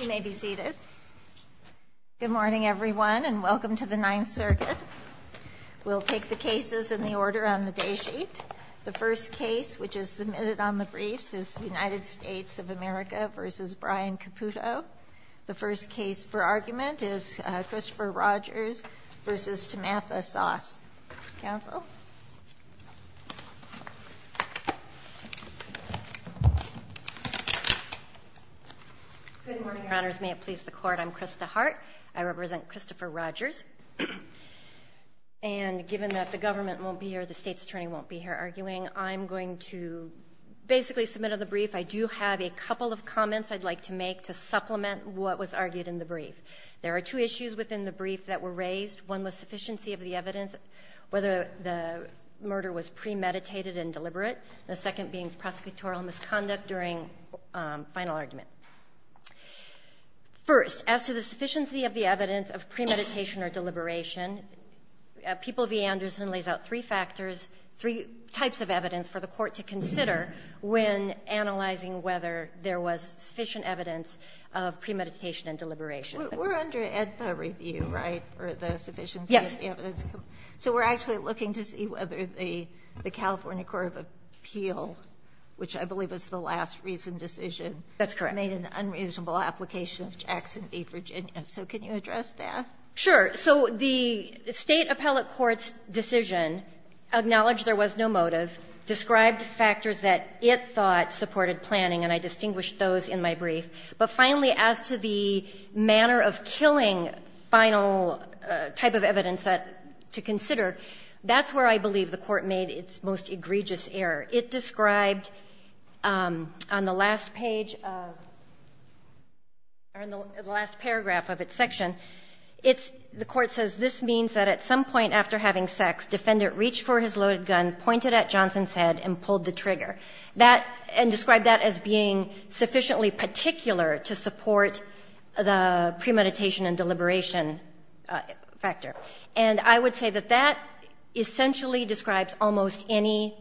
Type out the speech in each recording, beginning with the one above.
You may be seated. Good morning everyone and welcome to the Ninth Circuit. We'll take the cases in the order on the day sheet. The first case which is submitted on the briefs is United States of America v. Brian Caputo. The first case for argument is Christopher Rogers v. Tammatha Soss. Counsel? Good morning, Your Honors. May it please the Court, I'm Krista Hart. I represent Christopher Rogers. And given that the government won't be here, the State's Attorney won't be here arguing, I'm going to basically submit on the brief. I do have a couple of comments I'd like to supplement what was argued in the brief. There are two issues within the brief that were raised. One was sufficiency of the evidence, whether the murder was premeditated and deliberate. The second being prosecutorial misconduct during final argument. First, as to the sufficiency of the evidence of premeditation or deliberation, People v. Anderson lays out three factors, three types of evidence for the Court to consider when analyzing whether there was sufficient evidence of premeditation and deliberation. We're under AEDPA review, right, for the sufficiency of the evidence? Yes. So we're actually looking to see whether the California Court of Appeal, which I believe was the last recent decision, made an unreasonable application of Jackson v. Virginia. So can you address that? Sure. So the State appellate court's decision acknowledged there was no motive, described factors that it thought supported planning, and I distinguished those in my brief. But finally, as to the manner of killing final type of evidence to consider, that's where I believe the Court made its most egregious error. It described on the last page of or in the last paragraph of its section, it's the Court says this means that at some point after having sex, defendant reached for his husband's head and pulled the trigger, that and described that as being sufficiently particular to support the premeditation and deliberation factor. And I would say that that essentially describes almost any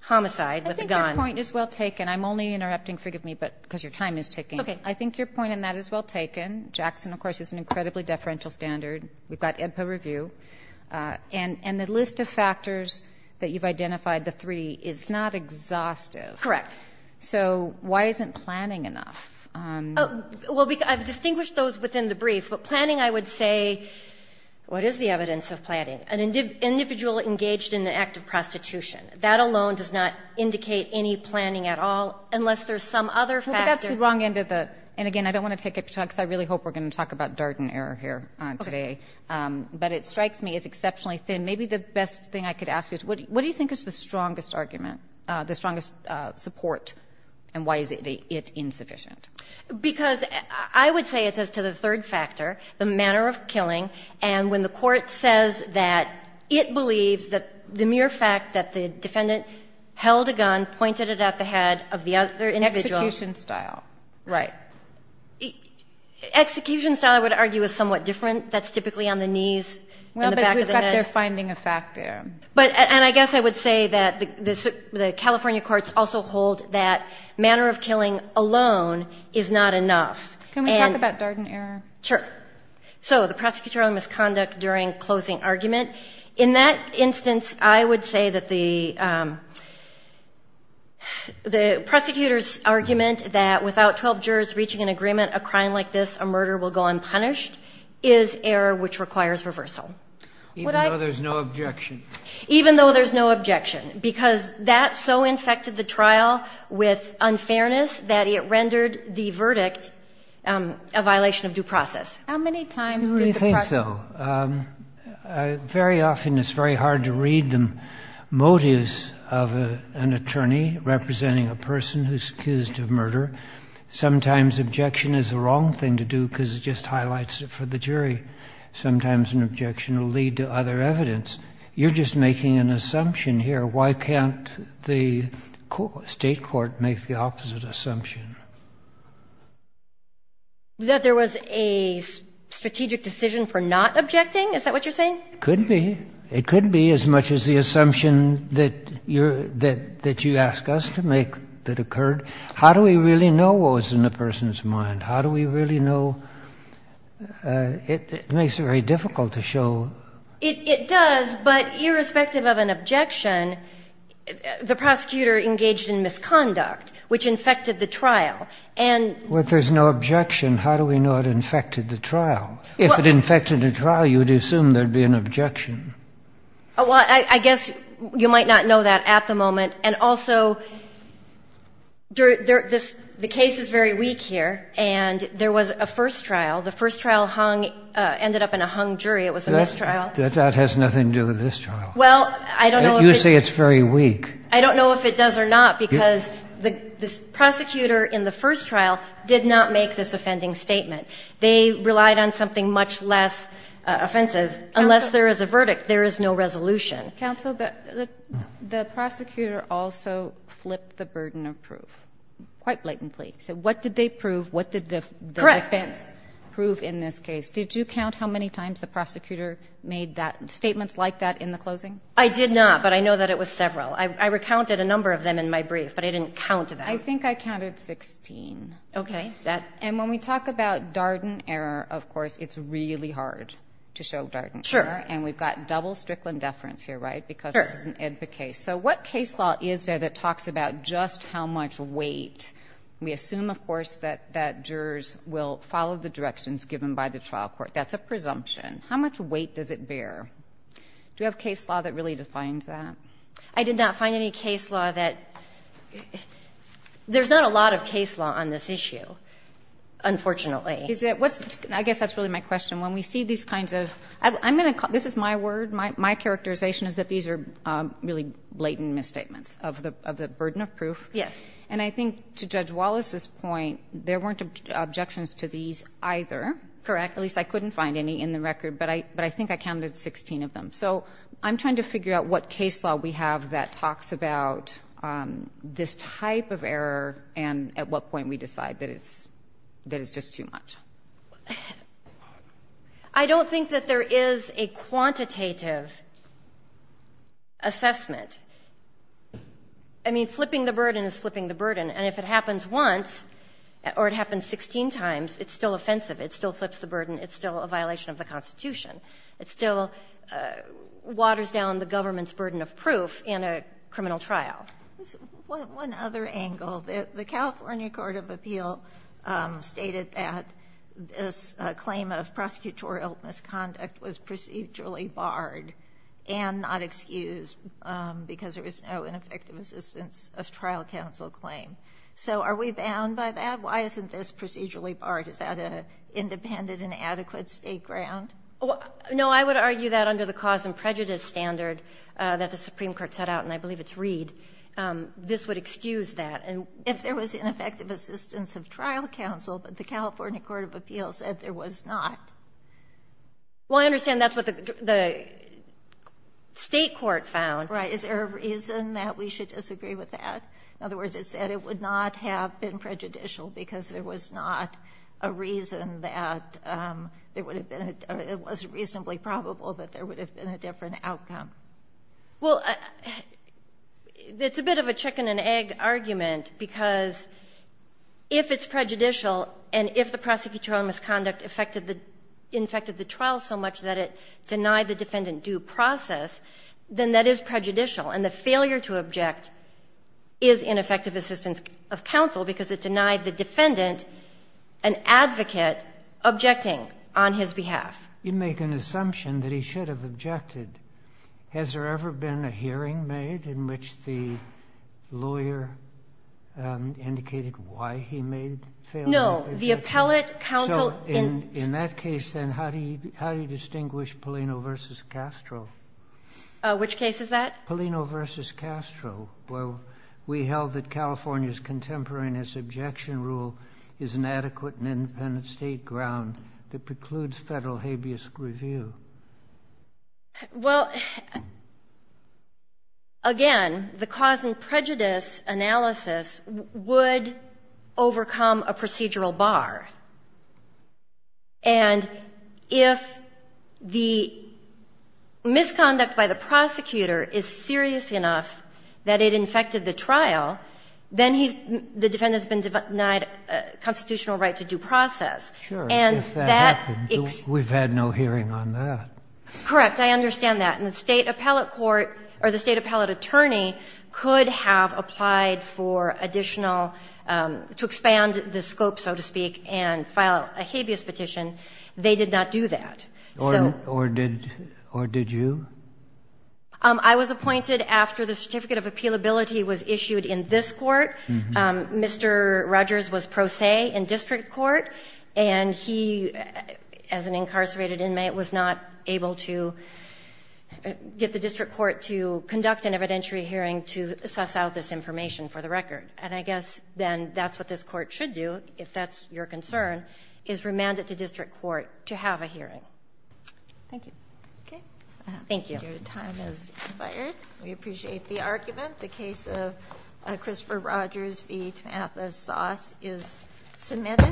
homicide with a gun. I think your point is well taken. I'm only interrupting, forgive me, but because your time is ticking. Okay. I think your point on that is well taken. Jackson, of course, is an incredibly deferential standard. We've got AEDPA review. And the list of factors that you've identified, the three, is not exhaustive. Correct. So why isn't planning enough? Well, I've distinguished those within the brief. But planning, I would say, what is the evidence of planning? An individual engaged in an act of prostitution. That alone does not indicate any planning at all, unless there's some other factor. That's the wrong end of the and, again, I don't want to take up your time because I really hope we're going to talk about Darden error here today. Okay. But it strikes me as exceptionally thin. Maybe the best thing I could ask you is what do you think is the strongest argument, the strongest support, and why is it insufficient? Because I would say it's as to the third factor, the manner of killing. And when the Court says that it believes that the mere fact that the defendant held a gun, pointed it at the head of the other individual. Execution style. Right. Execution style, I would argue, is somewhat different. That's typically on the knees in the back of the head. Well, but we've got their finding of fact there. But, and I guess I would say that the California courts also hold that manner of killing alone is not enough. Can we talk about Darden error? Sure. So the prosecutorial misconduct during closing argument. In that instance, I would say that the prosecutor's argument that without 12 jurors reaching an agreement, a crime like this, a murder will go unpunished, is error which requires reversal. Even though there's no objection. Even though there's no objection. Because that so infected the trial with unfairness that it rendered the verdict a violation of due process. How many times did the prosecutor? I don't think so. Very often it's very hard to read the motives of an attorney representing a person who's accused of murder. Sometimes objection is the wrong thing to do because it just highlights it for the jury. Sometimes an objection will lead to other evidence. You're just making an assumption here. Why can't the State court make the opposite assumption? That there was a strategic decision for not objecting? Is that what you're saying? Could be. It could be as much as the assumption that you're – that you asked us to make that occurred. How do we really know what was in the person's mind? How do we really know? It makes it very difficult to show. It does, but irrespective of an objection, the prosecutor engaged in misconduct, which infected the trial. And – Well, if there's no objection, how do we know it infected the trial? If it infected the trial, you would assume there'd be an objection. Well, I guess you might not know that at the moment. And also, the case is very weak here, and there was a first trial. The first trial hung – ended up in a hung jury. It was a mistrial. That has nothing to do with this trial. Well, I don't know if it's – You say it's very weak. I don't know if it does or not, because the prosecutor in the first trial did not make this offending statement. They relied on something much less offensive. Unless there is a verdict, there is no resolution. Counsel, the prosecutor also flipped the burden of proof quite blatantly. He said, what did they prove? What did the defense prove in this case? Did you count how many times the prosecutor made that – statements like that in the closing? I did not, but I know that it was several. I recounted a number of them in my brief, but I didn't count them. I think I counted 16. Okay. That – and when we talk about Darden error, of course, it's really hard to show Darden error. Sure. And we've got double Strickland deference here, right, because this is an AEDPA case. Sure. So what case law is there that talks about just how much weight? We assume, of course, that jurors will follow the directions given by the trial court. That's a presumption. How much weight does it bear? Do you have case law that really defines that? I did not find any case law that – there's not a lot of case law on this issue, unfortunately. Is it – what's – I guess that's really my question. When we see these kinds of – I'm going to – this is my word. My characterization is that these are really blatant misstatements of the burden of proof. Yes. And I think to Judge Wallace's point, there weren't objections to these either. Correct. At least I couldn't find any in the record, but I think I counted 16 of them. So I'm trying to figure out what case law we have that talks about this type of error and at what point we decide that it's – that it's just too much. I don't think that there is a quantitative assessment. I mean, flipping the burden is flipping the burden. And if it happens once or it happens 16 times, it's still offensive. It still flips the burden. It's still a violation of the Constitution. It still waters down the government's burden of proof in a criminal trial. One other angle. The California court of appeal stated that this claim of prosecutorial misconduct was procedurally barred and not excused because there was no ineffective assistance of trial counsel claim. So are we bound by that? Why isn't this procedurally barred? Is that an independent and adequate State ground? This would excuse that. And if there was ineffective assistance of trial counsel, but the California court of appeal said there was not. Well, I understand that's what the State court found. Right. Is there a reason that we should disagree with that? In other words, it said it would not have been prejudicial because there was not a reason that there would have been a – it was reasonably probable that there would have been a different outcome. Well, it's a bit of a chicken and egg argument because if it's prejudicial and if the prosecutorial misconduct affected the – infected the trial so much that it denied the defendant due process, then that is prejudicial. And the failure to object is ineffective assistance of counsel because it denied the defendant an advocate objecting on his behalf. You make an assumption that he should have objected. Has there ever been a hearing made in which the lawyer indicated why he made failure to object? No. The appellate counsel in – So in that case, then, how do you distinguish Palino v. Castro? Which case is that? Palino v. Castro, where we held that California's contemporary and its objection rule is an adequate and independent State ground that precludes Federal habeas review? Well, again, the cause and prejudice analysis would overcome a procedural bar, and if the misconduct by the prosecutor is serious enough that it infected the trial, then he's – the defendant's been denied constitutional right to due process. And that ex— Sure. If that happened, we've had no hearing on that. Correct. I understand that. And the State appellate court or the State appellate attorney could have applied for additional – to expand the scope, so to speak, and file a habeas petition. They did not do that. So— Or did – or did you? I was appointed after the certificate of appealability was issued in this Court. Mr. Rogers was pro se in district court, and he, as an incarcerated inmate, was not able to get the district court to conduct an evidentiary hearing to suss out this information for the record. And I guess, then, that's what this Court should do, if that's your concern, is remand it to district court to have a hearing. Thank you. Okay. Thank you. Your time has expired. We appreciate the argument. The case of Christopher Rogers v. Tamatha Soss is submitted.